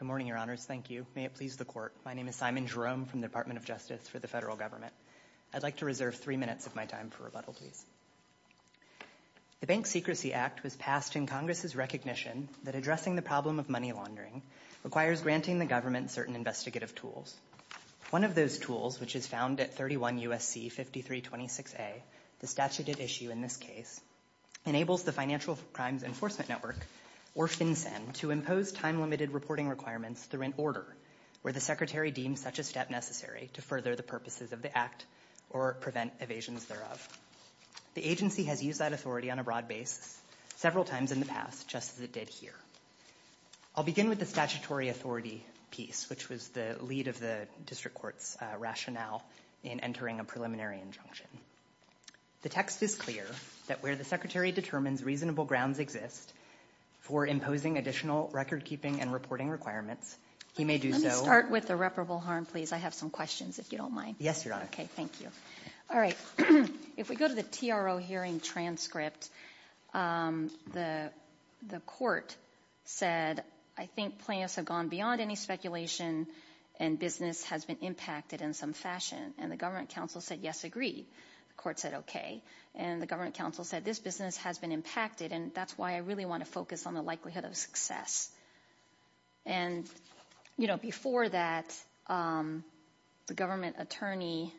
Good morning, Your Honors. Thank you. May it please the Court, my name is Simon Jerome from the Department of Justice for the Federal Government. I'd like to reserve three minutes of my time for rebuttal, please. The Bank Secrecy Act was passed in Congress's recognition that addressing the problem of money laundering requires granting the government certain investigative tools. One of those tools, which is found at 31 U.S.C. 5326A, the statute at issue in this case, enables the Financial Crimes Enforcement Network, or FinCEN, to impose time-limited reporting requirements through an order where the Secretary deems such a step necessary to further the purposes of the act or prevent evasions thereof. The agency has used that authority on a broad basis several times in the past, just as it did here. I'll begin with the statutory authority piece, which was the lead of the District Court's rationale in entering a preliminary injunction. The text is clear that where the Secretary determines reasonable grounds exist for imposing additional record-keeping and reporting requirements, he may do so. Let me start with irreparable harm, please. I have some questions, if you don't mind. Yes, Your Honor. Okay, thank you. All right. If we go to the TRO hearing transcript, the Court said, I think plaintiffs have gone beyond any speculation and business has been impacted in some fashion. And the Government Counsel said, yes, agree. The Court said, okay. And the Government Counsel said, this business has been impacted, and that's why I really want to focus on the likelihood of success. And, you know, before that, the Attorney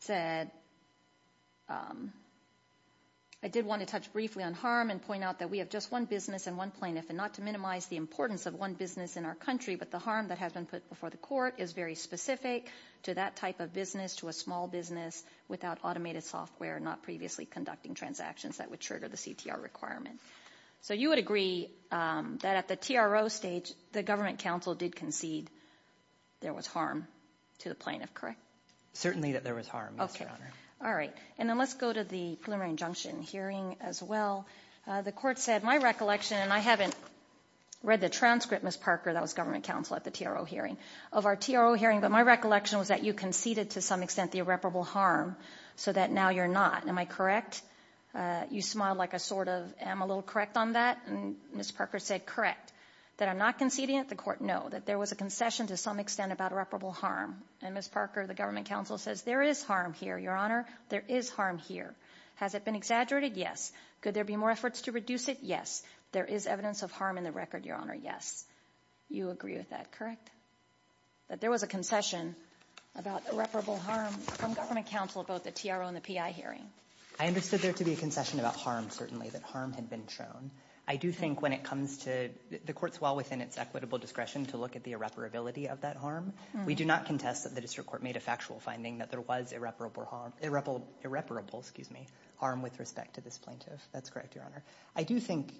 said, I did want to touch briefly on harm and point out that we have just one business and one plaintiff, and not to minimize the importance of one business in our country, but the harm that has been put before the Court is very specific to that type of business, to a small business, without automated software, not previously conducting transactions that would trigger the CTR requirement. So you would agree that at the TRO stage, the Government Counsel did concede there was harm to the plaintiff, correct? Certainly that there was harm, Your Honor. Okay. All right. And then let's go to the preliminary injunction hearing as well. The Court said, my recollection, and I haven't read the transcript, Ms. Parker, that was Government Counsel at the TRO hearing, of our TRO hearing, but my recollection was that you conceded to some extent the irreparable harm, so that now you're not. Am I correct? You smiled like a sort of, am I a little correct on that? And Ms. Parker said, correct. That you are not conceding it. The Court, no. That there was a concession to some extent about irreparable harm. And Ms. Parker, the Government Counsel says, there is harm here, Your Honor. There is harm here. Has it been exaggerated? Yes. Could there be more efforts to reduce it? Yes. There is evidence of harm in the record, Your Honor. Yes. You agree with that, correct? That there was a concession about irreparable harm from Government Counsel about the TRO and the PI hearing. I understood there to be a concession about harm, certainly, that harm had been shown. I do think when it comes to the Court's law within its equitable discretion to look at the irreparability of that harm, we do not contest that the District Court made a factual finding that there was irreparable harm with respect to this plaintiff. That's correct, Your Honor. I do think...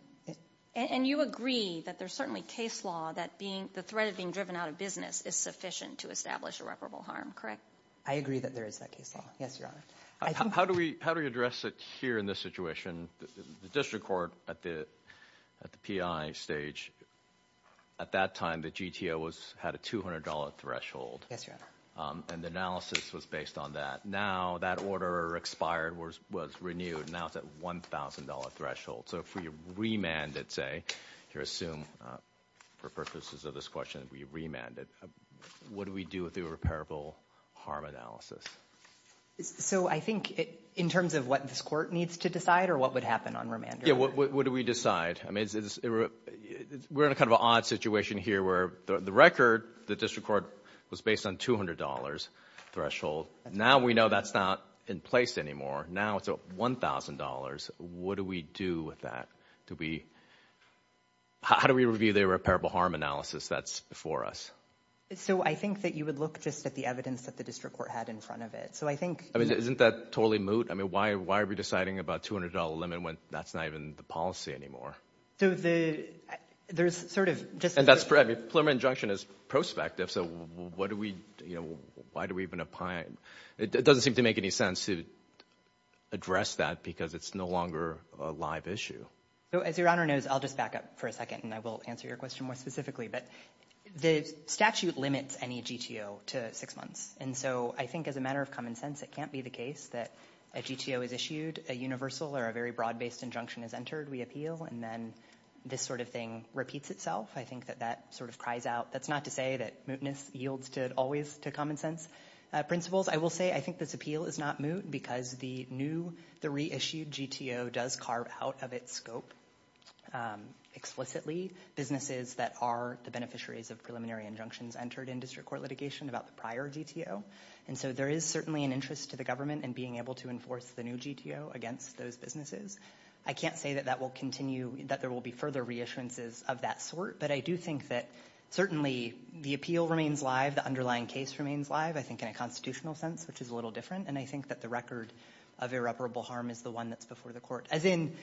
And you agree that there's certainly case law that the threat of being driven out of business is sufficient to establish irreparable harm, correct? I agree that there is that case law. Yes, Your Honor. How do we address it here in this situation? The District Court at the PI stage, at that time, the GTO had a $200 threshold. Yes, Your Honor. And the analysis was based on that. Now that order expired, was renewed. Now it's at $1,000 threshold. So if we remanded, say, here assume for purposes of this question, if we remanded, what do we do with the irreparable harm analysis? So I think in terms of what this Court needs to decide or what would happen on remand? Yeah, what do we decide? We're in a kind of an odd situation here where the record, the District Court was based on $200 threshold. Now we know that's not in place anymore. Now it's at $1,000. What do we do with that? How do we review the irreparable harm analysis that's before us? So I think that you would look just at the evidence that the District Court had in front of it. I mean, isn't that totally moot? I mean, why are we deciding about $200 limit when that's not even the policy anymore? And that's fair. I mean, a preliminary injunction is prospective. Why do we even apply it? It doesn't seem to make any sense to address that because it's no longer a live issue. As Your Honor knows, I'll just back up for a second and I will answer your question more specifically, but the statute limits any GTO to six months. And so I think as a matter of common sense, it can't be the case that a GTO is issued, a universal or a very broad based injunction is entered, we appeal, and then this sort of thing repeats itself. I think that that sort of cries out. That's not to say that mootness yields always to common sense principles. I will say I think this appeal is not moot because the new, the reissued GTO does carve out of its scope explicitly businesses that are the beneficiaries of preliminary injunctions entered in district court litigation about the prior GTO. And so there is certainly an interest to the government in being able to enforce the new GTO against those businesses. I can't say that that will continue, that there will be further reissuances of that sort, but I do think that certainly the appeal remains live, the underlying case remains live, I think in a constitutional sense, which is a little different. And I think that the record of irreparable harm is the one that's before the court. As in,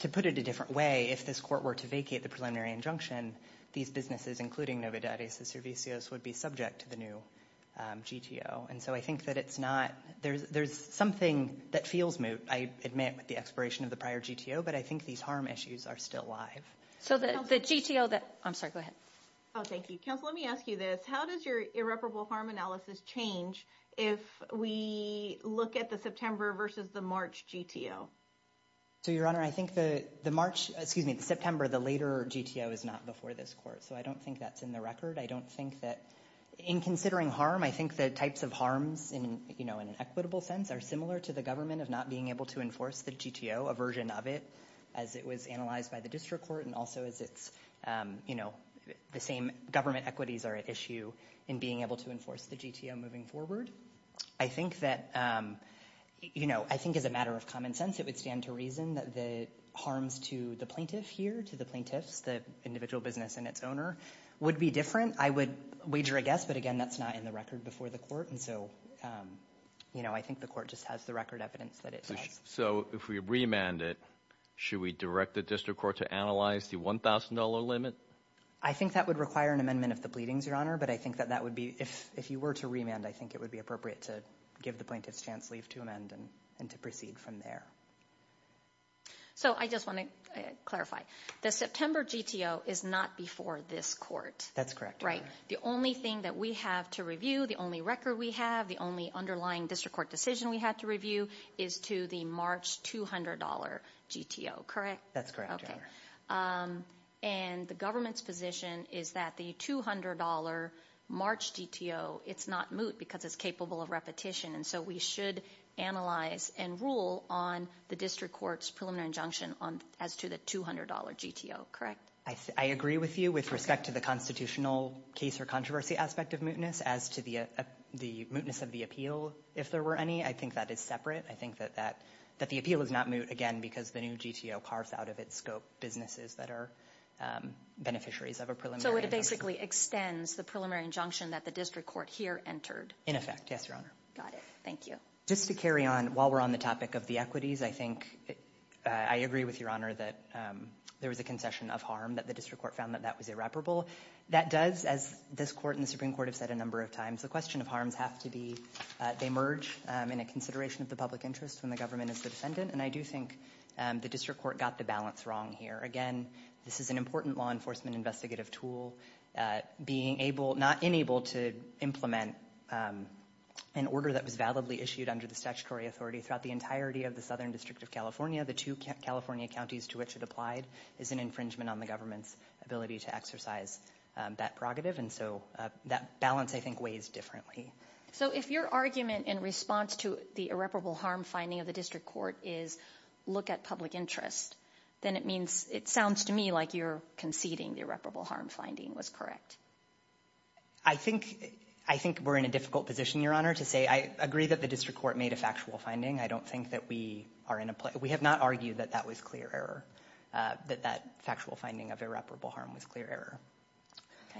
to put it a different way, if this court were to vacate the preliminary injunction, these businesses, including Novidad y Servicios, would be subject to the new GTO. And so I think that it's not, there's something that feels moot, I admit, with the expiration of the prior GTO, but I think these harm issues are still live. So the GTO that, I'm sorry, go ahead. Oh thank you. Counsel, let me ask you this. How does your irreparable harm analysis change if we look at the September versus the March GTO? So your honor, I think the March, excuse me, the September, the later GTO is not before this court, so I don't think that's in the record. I don't think that, in considering harm, I think the types of harms in, you know, in an equitable sense are similar to the government of not being able to enforce the GTO, a version of it, as it was analyzed by the district court, and also as it's, you know, the same government equities are at issue in being able to enforce the GTO moving forward. I think that, you know, I think as a plaintiff here to the plaintiffs, the individual business and its owner, would be different. I would wager a guess, but again, that's not in the record before the court, and so, you know, I think the court just has the record evidence that it does. So if we remand it, should we direct the district court to analyze the $1,000 limit? I think that would require an amendment of the pleadings, your honor, but I think that that would be, if you were to remand, I think it would be appropriate to the plaintiff's chance leave to amend and to proceed from there. So I just want to clarify, the September GTO is not before this court. That's correct. Right, the only thing that we have to review, the only record we have, the only underlying district court decision we had to review, is to the March $200 GTO, correct? That's correct, your honor. And the government's position is that the $200 March GTO, it's not moot because it's capable of repetition, and so we should analyze and rule on the district court's preliminary injunction as to the $200 GTO, correct? I agree with you with respect to the constitutional case or controversy aspect of mootness, as to the mootness of the appeal, if there were any. I think that is separate. I think that the appeal is not moot, again, because the new GTO carves out of its scope businesses that are beneficiaries of a preliminary. So it basically extends the preliminary injunction that the district court here entered? In effect, yes, your honor. Got it, thank you. Just to carry on while we're on the topic of the equities, I think I agree with your honor that there was a concession of harm that the district court found that that was irreparable. That does, as this court and the Supreme Court have said a number of times, the question of harms have to be, they merge in a consideration of the public interest when the government is the defendant, and I do think the district court got the balance wrong here. Again, this is an important law enforcement investigative tool. Being able, not unable to implement an order that was validly issued under the statutory authority throughout the entirety of the Southern District of California, the two California counties to which it applied, is an infringement on the government's ability to exercise that prerogative, and so that balance, I think, weighs differently. So if your argument in response to the irreparable harm finding of public interest, then it means, it sounds to me like you're conceding the irreparable harm finding was correct. I think, I think we're in a difficult position, your honor, to say I agree that the district court made a factual finding. I don't think that we are in a place, we have not argued that that was clear error, that that factual finding of irreparable harm was clear error.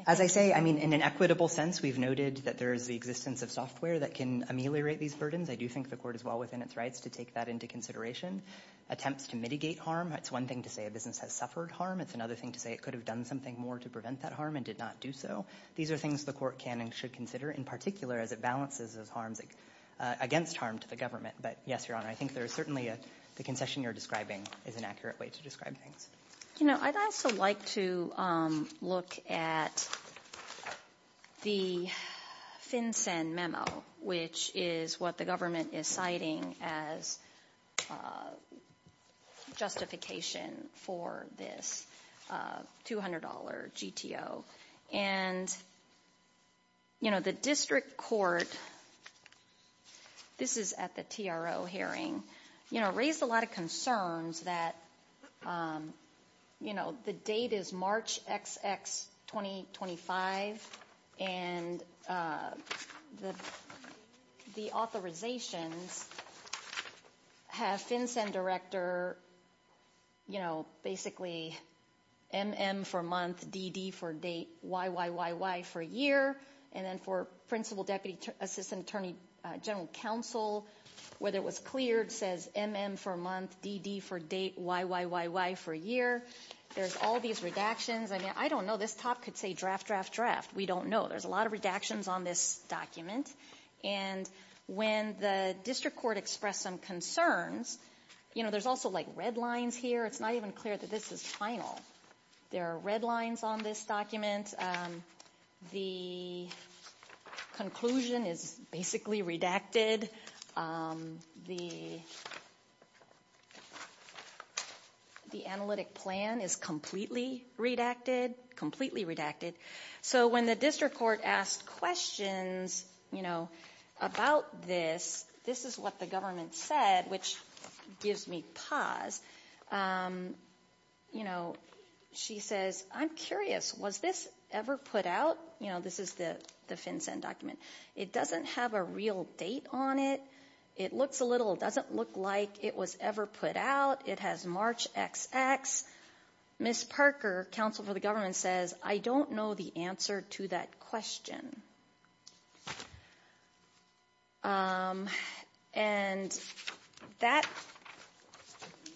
As I say, I mean, in an equitable sense, we've noted that there is the existence of software that can ameliorate these burdens. I do think the court is well within its rights to take that into consideration. Attempts to mitigate harm, it's one thing to say a business has suffered harm, it's another thing to say it could have done something more to prevent that harm and did not do so. These are things the court can and should consider, in particular as it balances those harms against harm to the government. But yes, your honor, I think there is certainly a, the concession you're describing is an accurate way to describe things. You know, I'd also like to look at the FinCEN memo, which is what the government is citing as a justification for this $200 GTO. And, you know, the district court, this is at the TRO hearing, you know, raised a lot of concerns that, you know, the date is March XX 2025, and the authorizations have FinCEN director, you know, basically MM for month, DD for date, YYYY for year, and then for principal deputy assistant attorney general counsel, whether it was cleared, says MM for month, DD for date, YYYY for year. There's all these redactions. I mean, I don't know, this top could say draft, draft, draft. We don't know. There's a lot of redactions on this document. And when the district court expressed some concerns, you know, there's also like red lines here. It's not even clear that this is final. There are red lines on this document. The conclusion is basically redacted. The analytic plan is completely redacted, completely redacted. So when the district court asked questions, you know, about this, this is what the government said, which gives me pause. You know, she says, I'm curious, was this ever put out? You know, this is the FinCEN document. It doesn't have a real date on it. It looks a little, doesn't look like it was ever put out. It has March XX. Ms. Parker, counsel for the government, says I don't know the answer to that question. And that,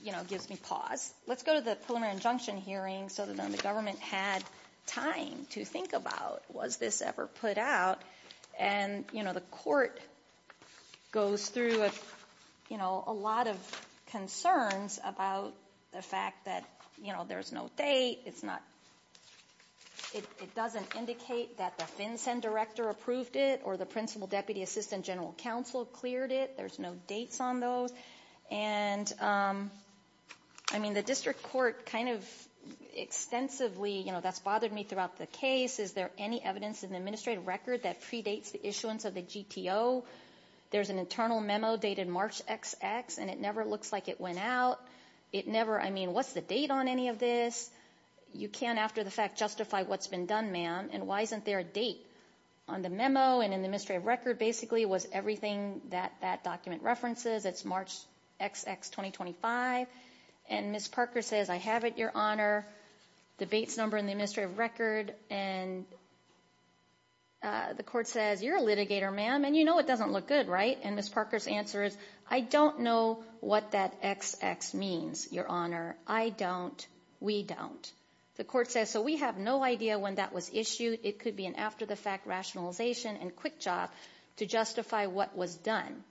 you know, gives me pause. Let's go to the preliminary injunction hearing so then the government had time to think about was this ever put out. And, you know, the court goes through, you know, a lot of concerns about the fact that, you know, there's no date. It's not, it doesn't indicate that the FinCEN director approved it or the principal deputy assistant general counsel cleared it. There's no dates on those. And, I mean, the district court kind of extensively, you know, that's bothered me throughout the case. Is there any evidence in the administrative record that predates the issuance of the GTO? There's an internal memo dated March XX and it never looks like it went out. It never, I mean, what's the date on any of this? You can't, after the fact, justify what's been done, ma'am. And why isn't there a date on the memo and in the administrative record basically was everything that that document references. It's March XX 2025. And Ms. Parker says, I have it, Your Honor. Debate's number in the administrative record. And the court says, you're a litigator, ma'am. And, you know, it doesn't look good, right? And Ms. Parker's answer is, I don't know what that XX means, Your Honor. I don't. We don't. The court says, so we have no idea when that was issued. It could be an after the fact rationalization and quick job to justify what was done.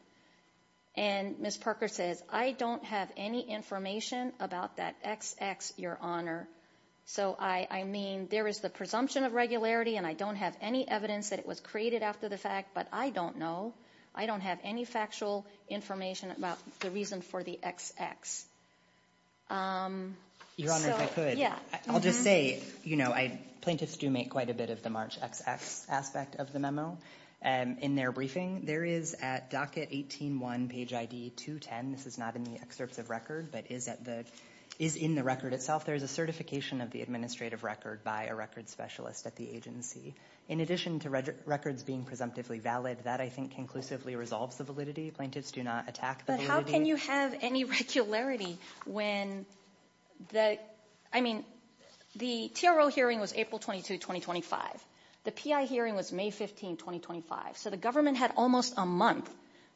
And Ms. Parker says, I don't have any information about that XX, Your Honor. So, I mean, there is the presumption of regularity and I don't have any evidence that it was created after the fact, but I don't know. I don't have any factual information about the reason for the XX. Your Honor, if I could, I'll just say, you know, plaintiffs do make quite a bit of the March XX aspect of the memo. In their briefing, there is at docket 18.1, page ID 210. This is not in the excerpts of record, but is in the record itself. There is a certification of the administrative record by a record specialist at the agency. In addition to records being presumptively valid, that I think conclusively resolves the validity. Plaintiffs do not attack the validity. But how can you have any regularity when the, I mean, the TRO hearing was April 22, 2025. The PI hearing was May 15, 2025. So the government had almost a month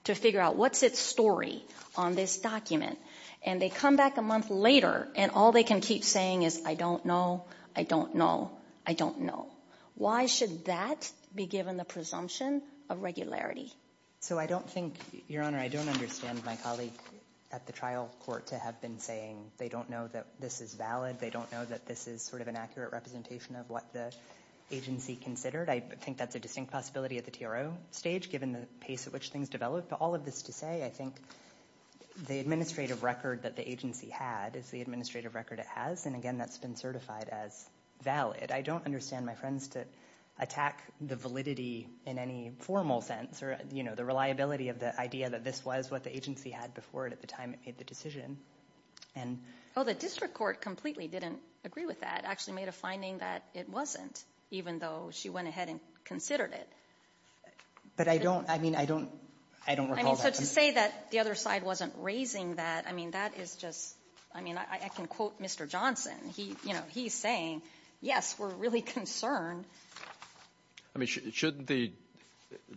to figure out what's its story on this document. And they come back a month later and all they can keep saying is, I don't know. I don't know. I don't know. Why should that be given the presumption of regularity? So I don't think, Your Honor, I don't understand my colleague at the trial court to have been saying they don't know that this is valid. They don't know that this is sort of an accurate representation of what the agency considered. I think that's a distinct possibility at the TRO stage, given the pace at which things developed. But all of this to say, I think the administrative record that the agency had is the administrative record it has. And again, that's been certified as valid. I don't understand my friends to attack the validity in any formal sense or, you know, the reliability of the idea that this was what the agency had before it at the time it made the decision. And... Oh, the district court completely didn't agree with that. It actually made a finding that it wasn't, even though she went ahead and considered it. But I don't, I mean, I don't, I don't recall that. I mean, so to say that the other side wasn't raising that, I mean, that is just, I mean, I can quote Mr. Johnson. He, you know, he's saying, yes, we're really concerned. I mean, shouldn't the,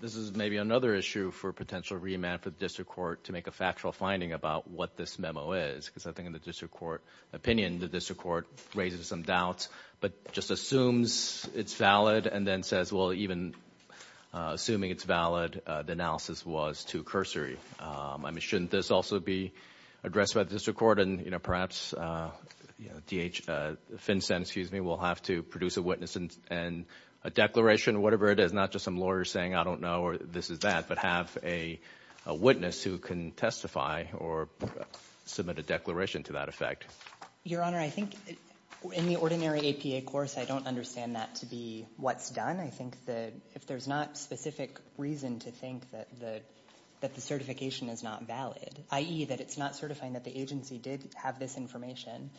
this is maybe another issue for potential remand for the district court to make a factual finding about what this memo is. Because I think in the district court opinion, the district court raises some doubts, but just assumes it's valid and then says, well, even assuming it's valid, the analysis was too cursory. I mean, shouldn't this also be addressed by the district court? And, you know, perhaps, you know, D.H. Finstead, excuse me, will have to produce a witness and a declaration, whatever it is. Not just some lawyer saying, I don't know, or this is that, but have a witness who can testify or submit a declaration to that effect. Your Honor, I think in the ordinary APA course, I don't understand that to be what's done. I think if there's not specific reason to think that the certification is not valid, i.e. that it's not certifying that the agency did have this information,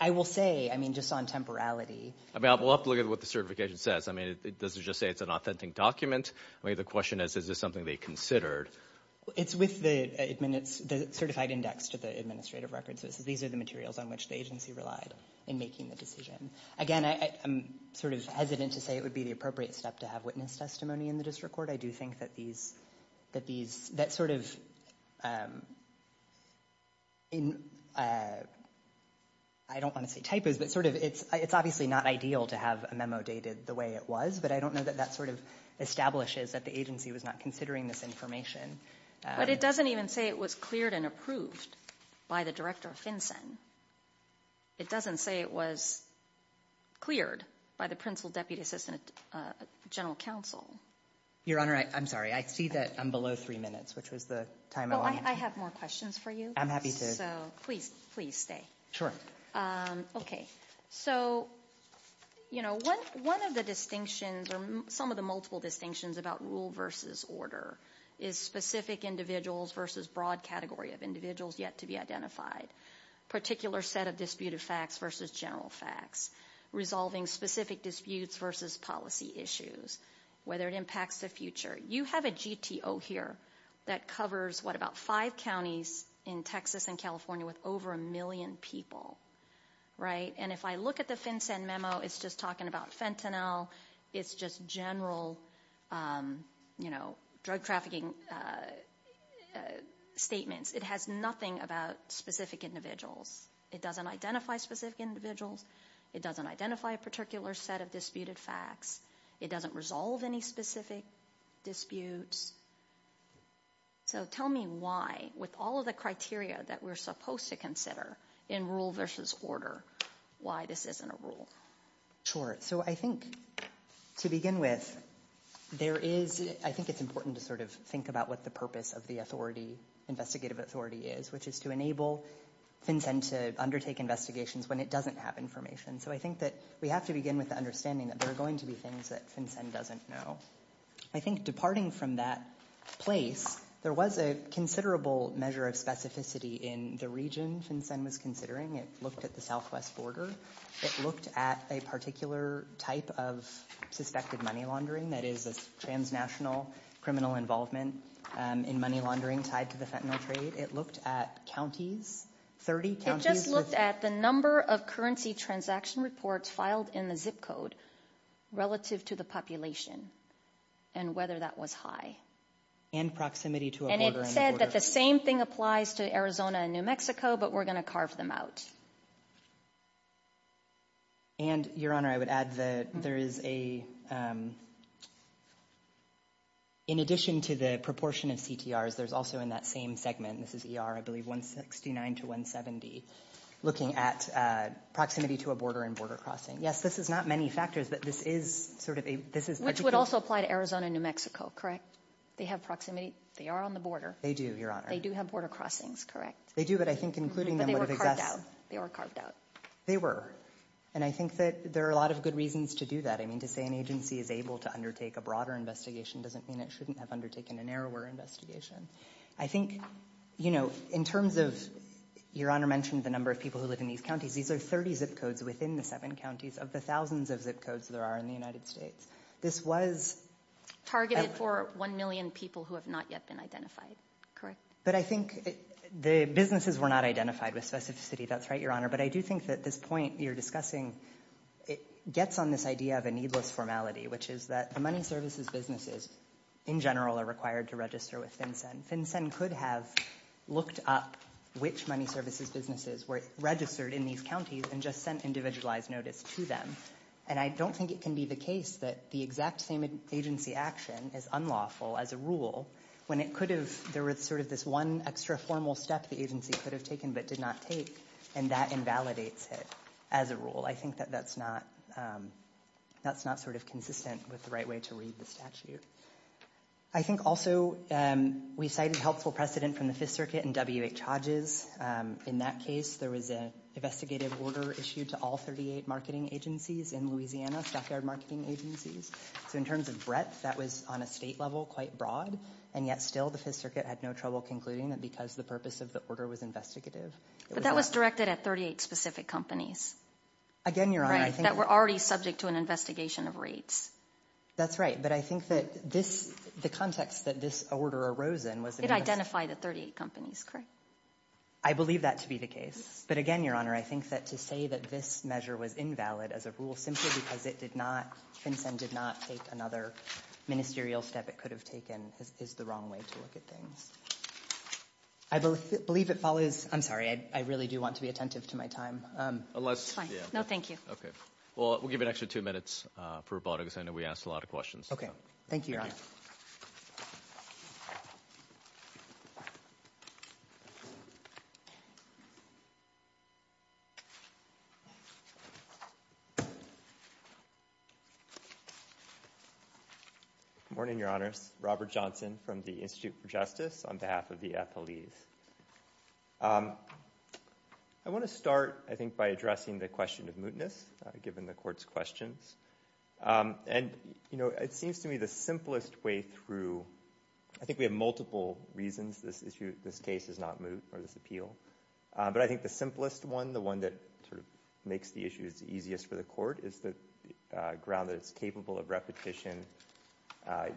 I will say, I mean, just on temporality. I mean, we'll have to look at what the certification says. I mean, does it just say it's an authentic document? I mean, the question is, is this something they considered? It's with the certified index to the administrative records. These are the materials on which the agency relied in making the decision. Again, I'm sort of hesitant to say it would be the appropriate step to have witness testimony in the district court. I do think that these, that these, that sort of, I don't want to say typos, but sort of, it's obviously not ideal to have a memo dated the way it was, but I don't know that that sort of establishes that the agency was not considering this information. But it doesn't even say it was cleared and approved by the director of FinCEN. It doesn't say it was cleared by the principal deputy assistant general counsel. Your Honor, I'm sorry. I see that I'm below three minutes, which was the time I wanted. Well, I have more questions for you. I'm happy to. So, please, please stay. Sure. Okay. So, you know, one of the distinctions or some of the multiple distinctions about rule versus order is specific individuals versus broad category of individuals yet to be identified. Particular set of disputed facts versus general facts. Resolving specific disputes versus policy issues. Whether it impacts the future. You have a GTO here that covers, what, about five counties in Texas and California with over a million people, right? And if I look at the FinCEN memo, it's just talking about Fentanyl. It's just general, you know, drug trafficking statements. It has nothing about specific individuals. It doesn't identify specific individuals. It doesn't identify a particular set of disputed facts. It doesn't resolve any specific disputes. So, tell me why, with all of the criteria that we're supposed to consider in rule versus order, why this isn't a rule. Sure. So, I think, to begin with, there is, I think it's important to sort of think about what the purpose of the authority, investigative authority is, which is to enable FinCEN to undertake investigations when it doesn't have information. So, I think that we have to begin with the understanding that there are going to be things that FinCEN doesn't know. I think departing from that place, there was a considerable measure of specificity in the region FinCEN was considering. It looked at the southwest border. It looked at a particular type of suspected money laundering, that is, a transnational criminal involvement in money laundering tied to the Fentanyl trade. It looked at counties, 30 counties. It just looked at the number of currency transaction reports filed in zip code relative to the population and whether that was high. And proximity to a border. And it said that the same thing applies to Arizona and New Mexico, but we're going to carve them out. And, Your Honor, I would add that there is a, in addition to the proportion of CTRs, there's also in that same segment, this is ER, I believe, 169 to 170, looking at proximity to a border and border crossing. Yes, this is not many factors, but this is sort of a... Which would also apply to Arizona and New Mexico, correct? They have proximity. They are on the border. They do, Your Honor. They do have border crossings, correct? They do, but I think including them would have... But they were carved out. They were carved out. They were. And I think that there are a lot of good reasons to do that. I mean, to say an agency is able to undertake a broader investigation doesn't mean it shouldn't have undertaken a narrower investigation. I think, in terms of, Your Honor mentioned the number of people who live in these counties. These are 30 zip codes within the seven counties of the thousands of zip codes there are in the United States. This was... Targeted for 1 million people who have not yet been identified, correct? But I think the businesses were not identified with specificity. That's right, Your Honor. But I do think that this point you're discussing, it gets on this idea of a needless formality, which is that the money services businesses, in general, are required to register with FinCEN. FinCEN could have looked up which money services businesses were registered in these counties and just sent individualized notice to them. And I don't think it can be the case that the exact same agency action is unlawful as a rule when it could have... There was sort of this one extra formal step the agency could have taken but did not take, and that invalidates it as a rule. I think that that's not sort of consistent with the right way to read the statute. I think also we cited helpful precedent from the Fifth Circuit and WH Hodges. In that case, there was an investigative order issued to all 38 marketing agencies in Louisiana, stockyard marketing agencies. So in terms of breadth, that was on a state level, quite broad, and yet still the Fifth Circuit had no trouble concluding that because the purpose of the order was investigative. But that was directed at 38 specific companies? Again, Your Honor, I think... That were already subject to an investigation of rates. That's right. But I think that this, the context that this order arose in was... It identified the 38 companies, correct? I believe that to be the case. But again, Your Honor, I think that to say that this measure was invalid as a rule simply because it did not, FinCEN did not take another ministerial step it could have taken is the wrong way to look at things. I believe it follows... I'm sorry, I really do want to be attentive to my time. Unless... No, thank you. Okay. Well, we'll give an extra two minutes for robotics. I know we asked a lot of questions. Okay. Thank you, Your Honor. Good morning, Your Honors. Robert Johnson from the Institute for Justice on behalf of the FLEs. I want to start, I think, by addressing the question of mootness, given the court's questions. And, you know, it seems to me the simplest way through... I think we have multiple reasons this issue, this case is not moot or this appeal. But I think the simplest one, the one that sort of makes the issues easiest for the court, is the ground that it's capable of repetition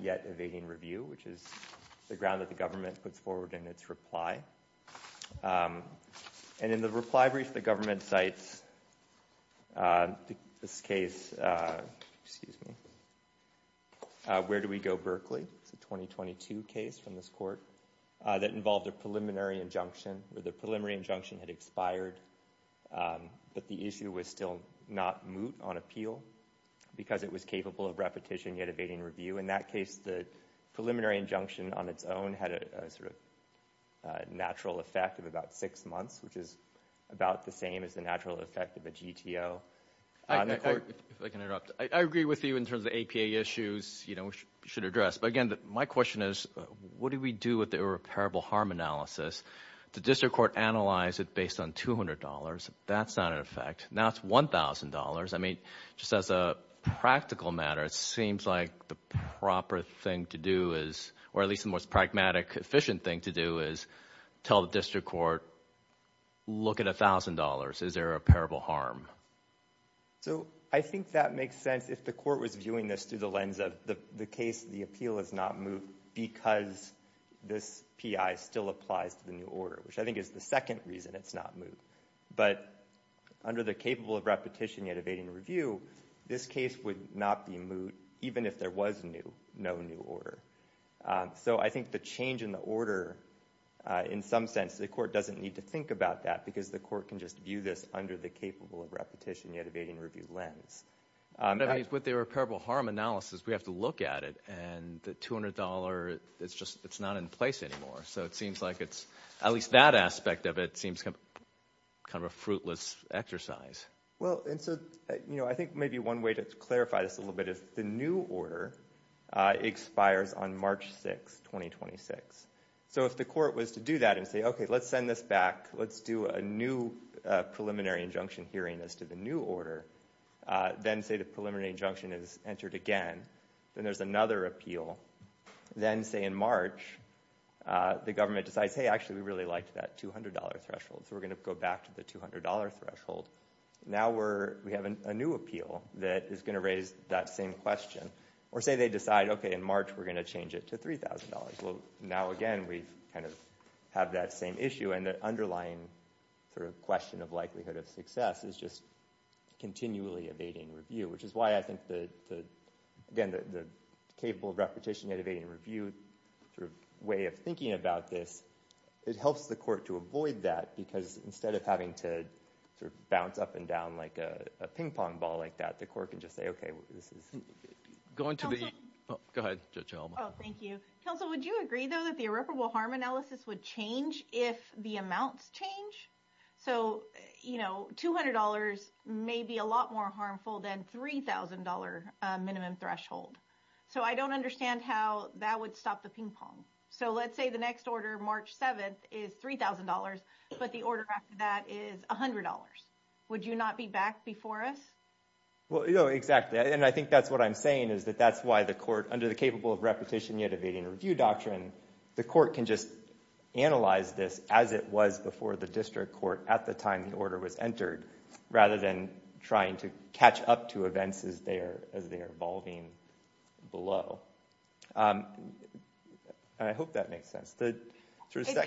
yet evading review, which is the ground that government puts forward in its reply. And in the reply brief, the government cites this case, excuse me, where do we go Berkeley? It's a 2022 case from this court that involved a preliminary injunction where the preliminary injunction had expired. But the issue was still not moot on appeal because it was capable of repetition yet evading review. In that case, the preliminary injunction on its own had a sort of natural effect of about six months, which is about the same as the natural effect of a GTO. If I can interrupt, I agree with you in terms of APA issues, you know, which you should address. But again, my question is, what do we do with the irreparable harm analysis? The district court analyzed it based on $200. That's not an effect. Now it's $1,000. I mean, just as a practical matter, it seems like the proper thing to do is, or at least the most pragmatic, efficient thing to do is tell the district court, look at $1,000. Is there a repairable harm? So I think that makes sense if the court was viewing this through the lens of the case, the appeal is not moot because this PI still applies to the new order, which I think is the reason it's not moot. But under the capable of repetition yet evading review, this case would not be moot even if there was no new order. So I think the change in the order, in some sense, the court doesn't need to think about that because the court can just view this under the capable of repetition yet evading review lens. I mean, with the repairable harm analysis, we have to look at it and the $200, it's just, at least that aspect of it seems kind of a fruitless exercise. Well, and so I think maybe one way to clarify this a little bit is the new order expires on March 6th, 2026. So if the court was to do that and say, okay, let's send this back, let's do a new preliminary injunction hearing as to the new order, then say the preliminary injunction is entered again, then there's another appeal. Then say in March, the government decides, hey, actually, we really liked that $200 threshold. So we're going to go back to the $200 threshold. Now we have a new appeal that is going to raise that same question. Or say they decide, okay, in March, we're going to change it to $3,000. Well, now again, we kind of have that same issue. And the underlying sort of question of likelihood of success is just continually evading review, which is why I think the, again, the capable of repetition, evading review sort of way of thinking about this, it helps the court to avoid that. Because instead of having to sort of bounce up and down like a ping pong ball like that, the court can just say, okay, this is going to be- Go ahead, Judge Alma. Oh, thank you. Counsel, would you agree, though, that the irreparable harm analysis would change if the amounts change? So $200 may be a lot more harmful than $3,000 minimum threshold. So I don't understand how that would stop the ping pong. So let's say the next order, March 7th, is $3,000, but the order after that is $100. Would you not be back before us? Well, exactly. And I think that's what I'm saying is that that's why the court, can just analyze this as it was before the district court at the time the order was entered, rather than trying to catch up to events as they are evolving below. And I hope that makes sense. It does,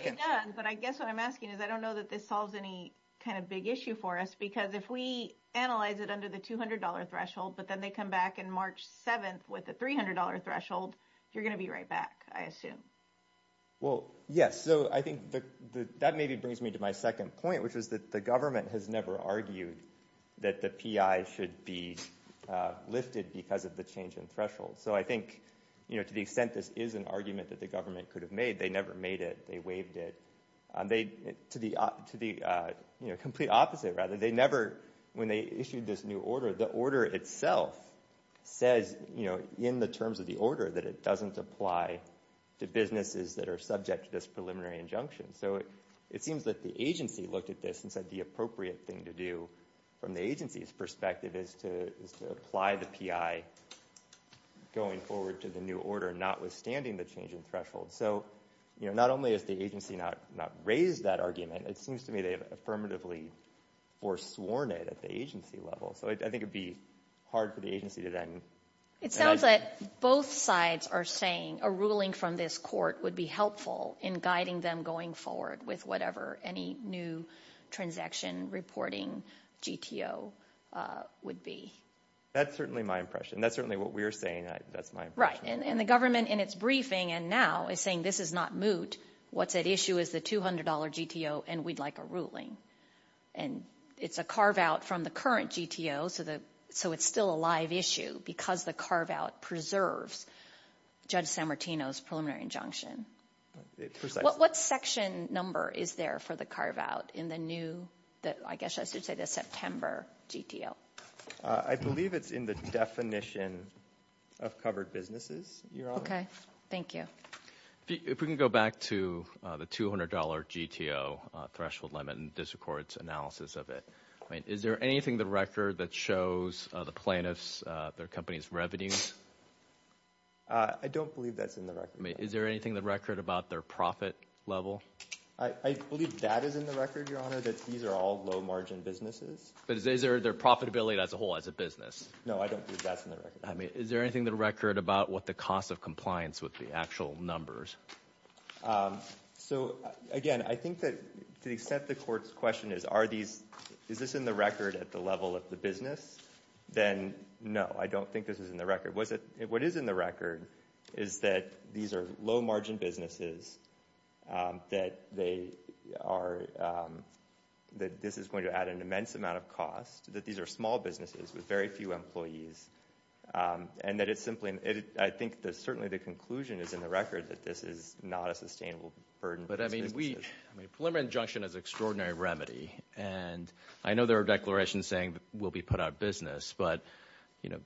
but I guess what I'm asking is, I don't know that this solves any kind of big issue for us. Because if we analyze it under the $200 threshold, but then they come back in March 7th with a $300 threshold, you're going to be right back, I assume. Well, yes. So I think that maybe brings me to my second point, which is that the government has never argued that the PI should be lifted because of the change in threshold. So I think, to the extent this is an argument that the government could have made, they never made it. They waived it. To the complete opposite, rather, they never, when they issued this new order, the order itself says in the terms of the order that it doesn't apply to businesses that are subject to this preliminary injunction. So it seems that the agency looked at this and said the appropriate thing to do from the agency's perspective is to apply the PI going forward to the new order, notwithstanding the change in threshold. So not only has the agency not raised that argument, it seems to me they have affirmatively foresworn it at the agency level. So I think it would be for the agency to then- It sounds like both sides are saying a ruling from this court would be helpful in guiding them going forward with whatever any new transaction reporting GTO would be. That's certainly my impression. That's certainly what we're saying. That's my impression. Right. And the government, in its briefing and now, is saying this is not moot. What's at issue is the $200 GTO and we'd like a ruling. And it's a carve out from the current GTO, so it's still a issue because the carve out preserves Judge San Martino's preliminary injunction. What section number is there for the carve out in the new, I guess I should say the September GTO? I believe it's in the definition of covered businesses, Your Honor. Okay. Thank you. If we can go back to the $200 GTO threshold limit and district court's analysis of it. Is there anything in the record that shows the plaintiffs, their company's revenues? I don't believe that's in the record. I mean, is there anything in the record about their profit level? I believe that is in the record, Your Honor, that these are all low margin businesses. But is there their profitability as a whole, as a business? No, I don't believe that's in the record. I mean, is there anything in the record about what the cost of compliance would be, actual numbers? Um, so again, I think that to the extent the court's question is, are these, is this in the record at the level of the business? Then no, I don't think this is in the record. What is in the record is that these are low margin businesses, that they are, that this is going to add an immense amount of cost, that these are small businesses with very few employees, and that it's simply, I think that certainly the conclusion is in the record that this is not a sustainable burden. But I mean, we, I mean, a preliminary injunction is an extraordinary remedy, and I know there are declarations saying we'll be put out of business, but, you know,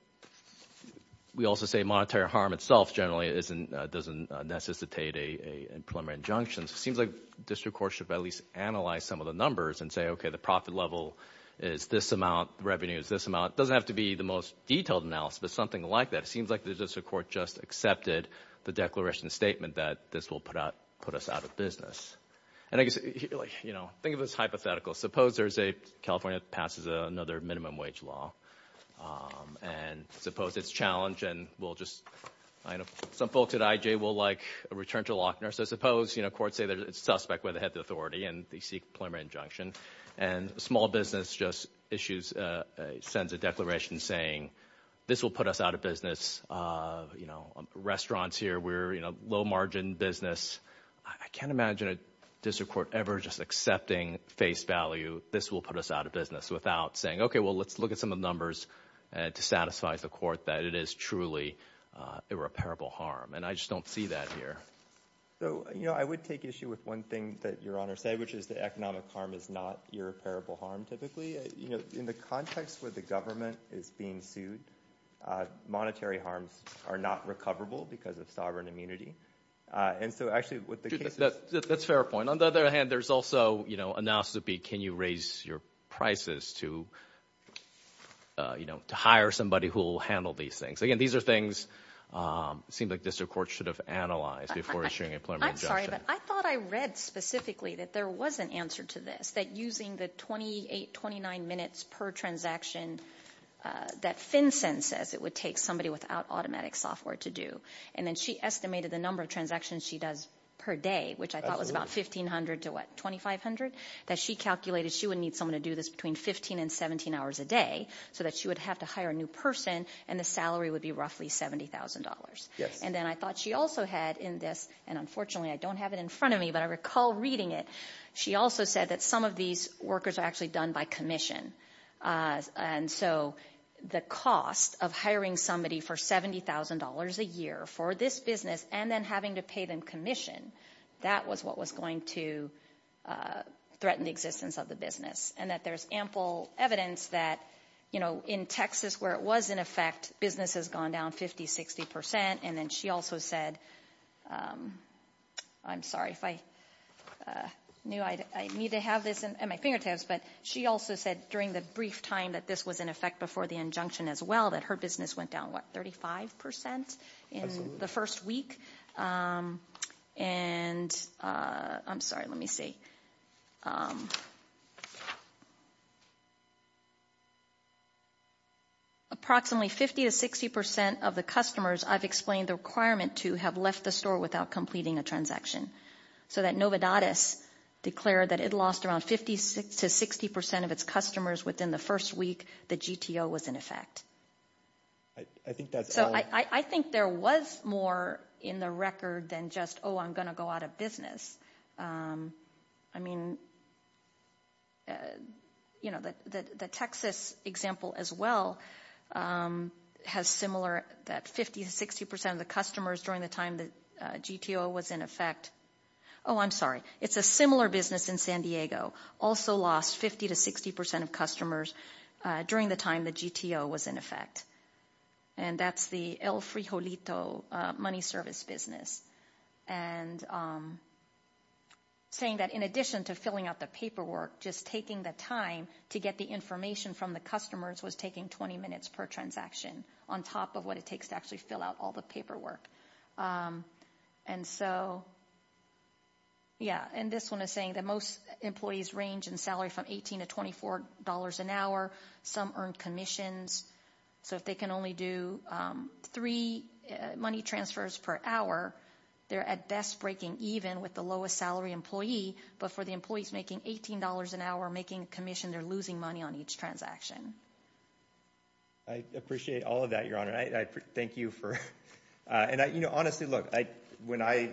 we also say monetary harm itself generally isn't, doesn't necessitate a preliminary injunction. So it seems like district courts should at least analyze some of the numbers and say, okay, the profit level is this amount, the revenue is this amount. It doesn't have to be the most detailed analysis, but something like that. It seems like the district court just accepted the declaration statement that this will put out, put us out of business. And I guess, you know, think of it as hypothetical. Suppose there's a, California passes another minimum wage law, and suppose it's challenged and we'll just, I know some folks at IJ will like a return to Lochner. So suppose, you know, courts say there's a suspect where they have the authority and they seek a preliminary injunction, and a small business just issues, sends a declaration saying this will put us out of restaurants here. We're in a low margin business. I can't imagine a district court ever just accepting face value. This will put us out of business without saying, okay, well, let's look at some of the numbers to satisfy the court that it is truly a repairable harm. And I just don't see that here. So, you know, I would take issue with one thing that your honor said, which is the economic harm is not irreparable harm typically, you know, in the context where the government is being sued. Monetary harms are not recoverable because of sovereign immunity. And so actually what the case is. That's a fair point. On the other hand, there's also, you know, analysis would be, can you raise your prices to, you know, to hire somebody who will handle these things. Again, these are things, it seems like district courts should have analyzed before issuing a preliminary injunction. I'm sorry, but I thought I read specifically that there was an answer to this, that using the 28, 29 minutes per transaction that FinCEN says it would take somebody without automatic software to do. And then she estimated the number of transactions she does per day, which I thought was about 1500 to what? 2500? That she calculated she would need someone to do this between 15 and 17 hours a day so that she would have to hire a new person and the salary would be roughly $70,000. And then I thought she also had in this, and unfortunately I don't have it in front of me, but I recall reading it, she also said that some of these workers are actually done by commission. And so the cost of hiring somebody for $70,000 a year for this business and then having to pay them commission, that was what was going to threaten the existence of the business. And that there's ample evidence that, you know, in Texas where it was in effect, business has gone down 50, 60%. And then she also said, I'm sorry if I knew I'd need to have this at my fingertips, but she also said during the brief time that this was in effect before the injunction as well, that her business went down, what, 35% in the first week? And I'm sorry, let me see. Approximately 50 to 60% of the customers I've explained the requirement to have left the store without completing a transaction. So that Novadatus declared that it lost around 50 to 60% of its customers within the first week the GTO was in effect. So I think there was more in the than just, oh, I'm going to go out of business. I mean, you know, the Texas example as well has similar that 50 to 60% of the customers during the time the GTO was in effect. Oh, I'm sorry. It's a similar business in San Diego, also lost 50 to 60% of customers during the time the GTO was in effect. And that's the El Frijolito money service business. And saying that in addition to filling out the paperwork, just taking the time to get the information from the customers was taking 20 minutes per transaction on top of what it takes to actually fill out all the paperwork. And so, yeah, and this one is saying that most employees range in salary from 18 to $24 an hour, some earn commissions. So if they can only do three money transfers per hour, they're at best breaking even with the lowest salary employee, but for the employees making $18 an hour making a commission, they're losing money on each transaction. I appreciate all of that, Your Honor. And I thank you for, and I, you know, honestly, look, when I,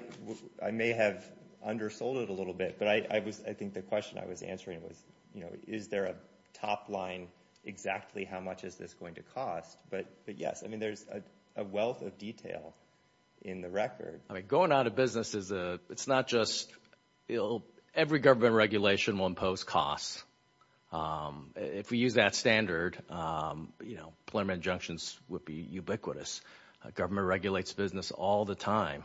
I may have undersold it a little bit, but I was, I think the question I was answering was, you know, is there a top line, exactly how much is this going to cost? But yes, I mean, there's a wealth of detail in the record. I mean, going out of business is a, it's not just, you know, every government regulation will impose costs. If we use that standard, you know, preliminary injunctions would be ubiquitous. Government regulates business all the time.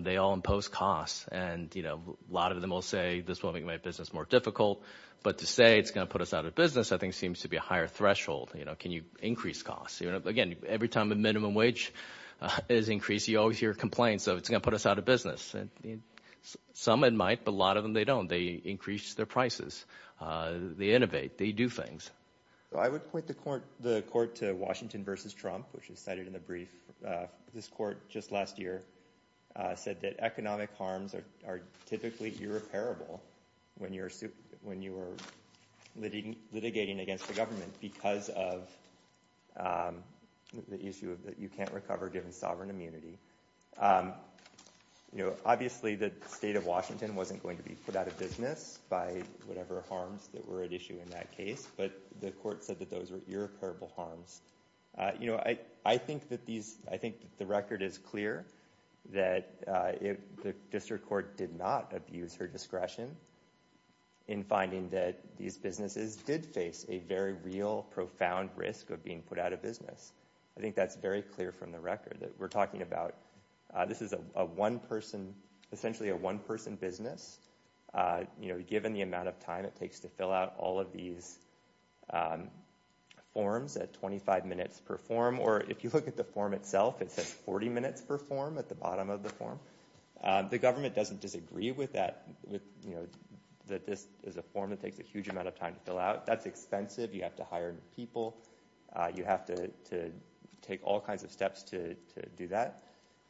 They all impose costs. And, you know, a lot of them will say this will make my business more difficult, but to say it's going to put us out of business, I think seems to be a higher threshold. You know, can you increase costs? You know, again, every time a minimum wage is increased, you always hear complaints of it's going to put us out of business. Some might, but a lot of them, they don't. They increase their prices. They innovate. They do things. I would point the court, the court to Washington versus Trump, which is cited in the brief. This court just last year said that economic harms are typically irreparable when you're, when you are litigating against the government because of the issue that you can't recover given sovereign immunity. You know, obviously the state of Washington wasn't going to be put out of business by whatever harms that were at issue in that case, but the court said that those were irreparable harms. You know, I think that these, I think the record is clear that the district court did not abuse her discretion in finding that these businesses did face a very real profound risk of being put out of business. I think that's very clear from the record that we're talking about, this is a one person, essentially a one person business. You know, given the amount of time it takes to fill out all of these forms at 25 minutes per form, or if you look at the form itself, it says 40 minutes per form at the bottom of the form. The government doesn't disagree with that, with, you know, that this is a form that takes a huge amount of time to fill out. That's expensive. You have to hire people. You have to take all kinds of steps to do that.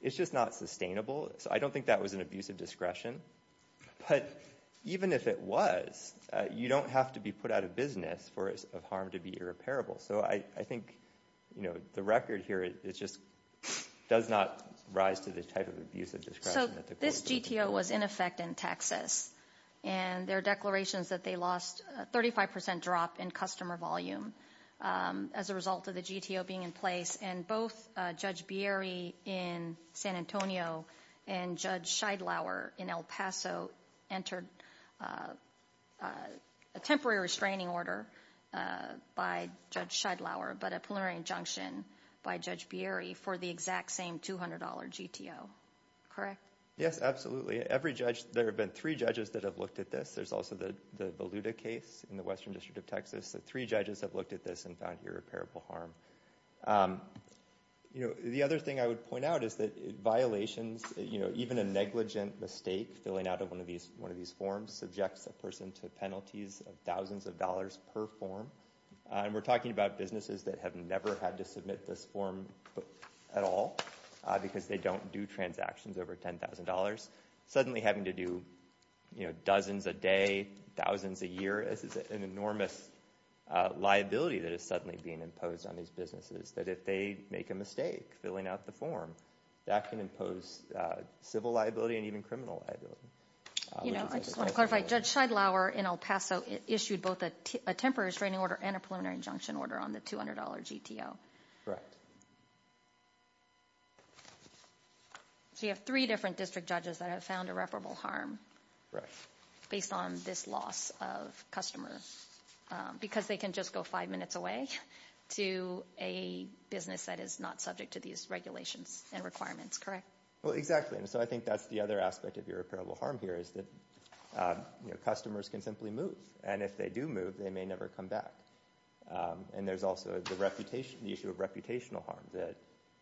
It's just not sustainable. So I don't think that was an abuse of discretion, but even if it was, you don't have to be put out of business for it's of harm to be irreparable. So I think, you know, the record here, it just does not rise to the type of abuse of discretion. So this GTO was in effect in Texas, and there are declarations that they lost a 35% drop in customer volume as a result of the GTO being in place, and both Judge Bieri in San Antonio and Judge Scheidlauer in El Paso entered a temporary restraining order by Judge Scheidlauer, but a preliminary injunction by Judge Bieri for the exact same $200 GTO. Correct? Yes, absolutely. Every judge, there have been three judges that have looked at this. There's also the Voluta case in the Western District of Texas. Three judges have looked at this and found irreparable harm. You know, the other thing I would point out is that violations, you know, even a negligent mistake filling out of one of these forms subjects a person to penalties of thousands of dollars per form, and we're talking about businesses that have never had to submit this form at all because they don't do transactions over $10,000. Suddenly having to do, you know, dozens a day, thousands a year, is an enormous liability that is suddenly being imposed on these businesses, that if they make a mistake filling out the form, that can impose civil liability and even criminal liability. You know, I just want to clarify, Judge Scheidlauer in El Paso issued both a temporary restraining order and a preliminary injunction order on the $200 GTO. Correct. So you have three different district judges that have found irreparable harm. Right. Based on this loss of customers, because they can just go five minutes away to a business that is not subject to these regulations and requirements, correct? Well, exactly, and so I think that's the other aspect of irreparable harm here is that, you know, customers can simply move, and if they do move, they may never come back. And there's also the issue of reputational harm, that,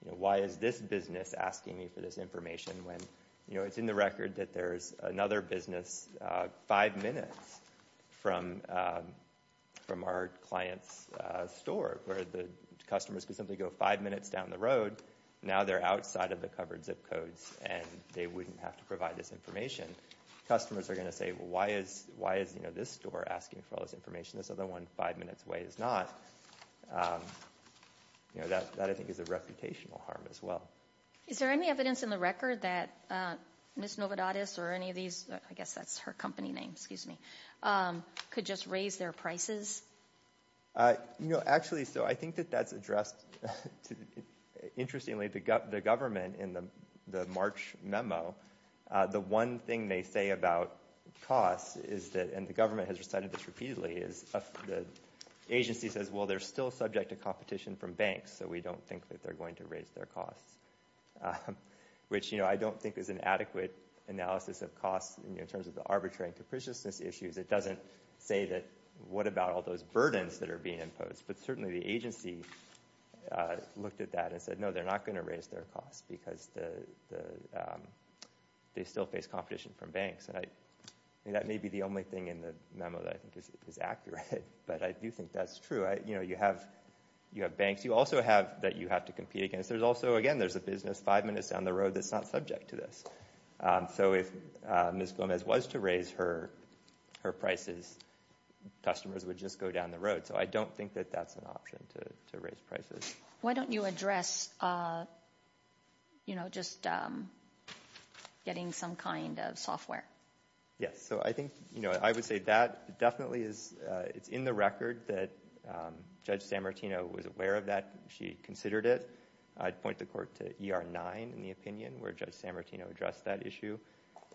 you know, why is this business asking me for this information when, you know, it's in the record that there's another business five minutes from our client's store, where the customers could simply go five minutes down the road, now they're outside of the covered zip codes, and they wouldn't have to provide this information. Customers are going to say, well, why is, you know, this store asking for all this information, this other one five minutes away is not, you know, that I think is a reputational harm as well. Is there any evidence in the record that Ms. Novodatos or any of these, I guess that's her company name, excuse me, could just raise their prices? You know, actually, so I think that that's addressed, interestingly, the government in the March memo, the one thing they say about costs is that, and the government has recited this repeatedly, is the agency says, well, they're still subject to competition from banks, so we don't think that they're going to raise their costs. Which, you know, I don't think is an adequate analysis of costs in terms of the arbitrary and capriciousness issues, it doesn't say that, what about all those burdens that are being imposed, but certainly the agency looked at that and said, no, they're not going to raise their costs, because they still face competition from banks. That may be the only thing in the memo that I think is accurate, but I do think that's true. You know, you have banks, you also have that you have to compete against, there's also, again, there's a business five minutes down the road that's not subject to this. So if Ms. Gomez was to raise her prices, customers would just go down the road, so I don't think that that's an option to raise prices. Why don't you address, you know, just getting some kind of software? Yes, so I think, you know, I would say that definitely is, it's in the record that Judge Sammartino was aware of that, she considered it. I'd point the court to ER 9, in the opinion, where Judge Sammartino addressed that issue.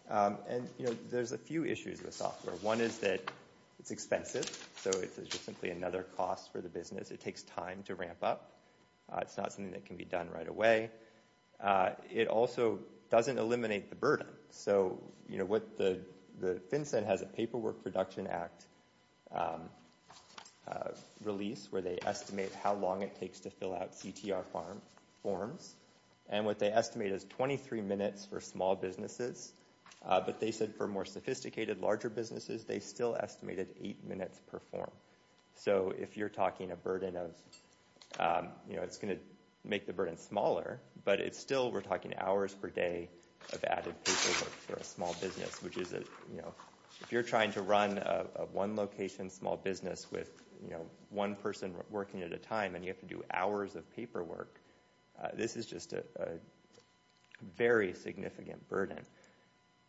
And, you know, there's a few issues with software. One is that it's expensive, so it's just simply another cost for the business, it takes time to ramp up. It's not something that can be done right away. It also doesn't eliminate the burden. So, you know, the FinCEN has a Paperwork Production Act release where they estimate how long it takes to fill out CTR forms, and what they estimate is 23 minutes for small businesses. But they said for more sophisticated, larger businesses, they still estimated eight minutes per form. So if you're talking a burden of, you know, it's going to make the burden smaller, but it's still, we're talking hours per day of added paperwork for a small business, which is, you know, if you're trying to run a one location small business with, you know, one person working at a time and you have to do hours of paperwork, this is just a very significant burden.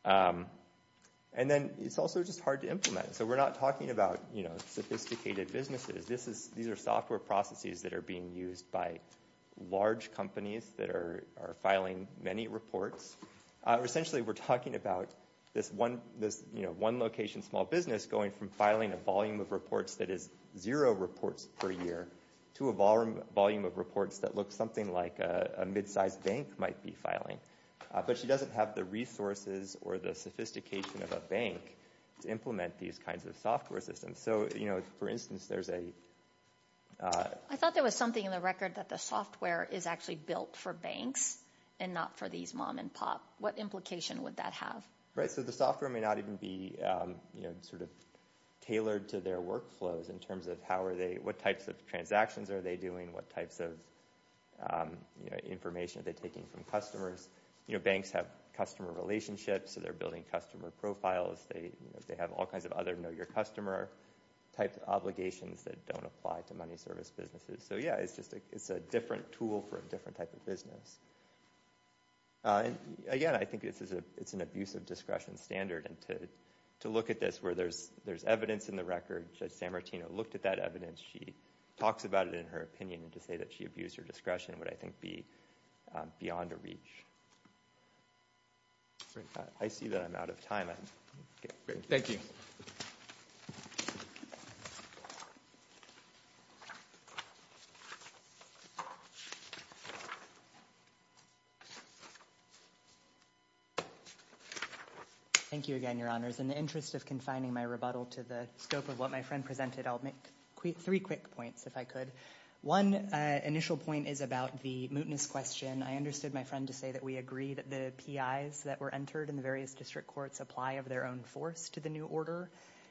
And then it's also just hard to implement. So we're not talking about, you know, sophisticated businesses. This is, these are software processes that are being used by large companies that are filing many reports. Essentially, we're talking about this one location small business going from filing a volume of reports that is zero reports per year to a volume of reports that looks something like a mid-sized bank might be filing. But she doesn't have the resources or the sophistication of a bank to implement these kinds of software systems. So, you know, for instance, there's a... I thought there was something in the record that the software is actually built for banks and not for these mom and pop. What implication would that have? Right. So the software may not even be, you know, sort of tailored to their workflows in terms of how are they, what types of transactions are they doing? What types of, you know, information are they taking from customers? You know, banks have customer relationships. So they're building customer profiles. They have all kinds of other know-your-customer type obligations that don't apply to money service businesses. So yeah, it's just, it's a different tool for a different type of business. Again, I think it's an abusive discretion standard. And to look at this where there's evidence in the record, Judge Sammartino looked at that evidence. She talks about it in her opinion. And to say that she abused her discretion would, I think, be beyond a reach. I see that I'm out of time. Thank you. Thank you again, Your Honors. In the interest of confining my rebuttal to the scope of what my friend presented, I'll make three quick points, if I could. One initial point is about the mootness question. I understood my friend to say that we agree that the PIs that were entered in the various district courts apply of their own force to the new order.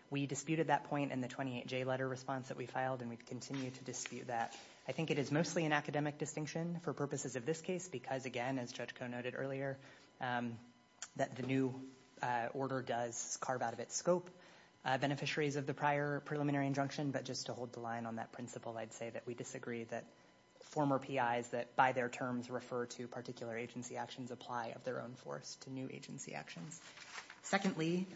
We disputed that point in the 28J letter response that we filed. And we continue to dispute that. I think it is mostly an academic distinction for purposes of this case. Because again, as Judge Koh noted earlier, that the new order does carve out of its scope beneficiaries of the prior preliminary injunction. But just to hold the line on that principle, I'd say that we disagree that former PIs that, by their terms, refer to particular agency actions, apply of their own force to new agency actions. Secondly,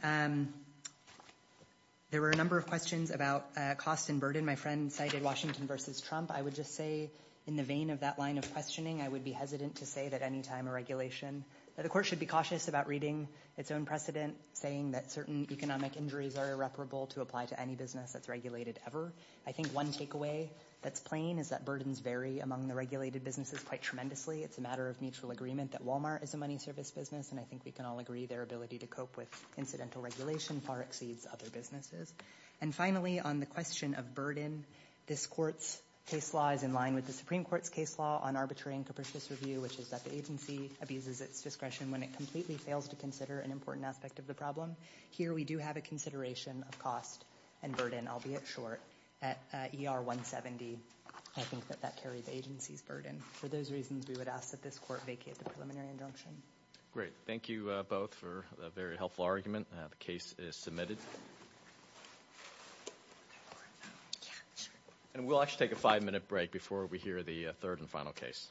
there were a number of questions about cost and burden. My friend cited Washington versus Trump. I would just say, in the vein of that line of questioning, I would be hesitant to say that any time a regulation, that the court should be cautious about reading its own precedent, saying that certain economic injuries are irreparable to apply to any business that's regulated ever. I think one takeaway that's plain is that burdens vary among the regulated businesses quite tremendously. It's a matter of mutual agreement that Walmart is a money service business. And I think we can all agree their ability to cope with incidental regulation far exceeds other businesses. And finally, on the question of burden, this court's case law is in line with the Supreme Court's case law on arbitrary and capricious review, which is that the agency abuses its discretion when it completely fails to consider an important aspect of the problem. Here, we do have a consideration of cost and burden, albeit short, at ER 170. I think that that carries the agency's burden. For those reasons, we would ask that this court vacate the preliminary injunction. Great. Thank you both for a very helpful argument. The case is submitted. And we'll actually take a five-minute break before we hear the third and final case.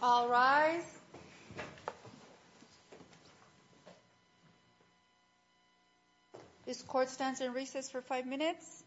All rise. This court stands in recess for five minutes.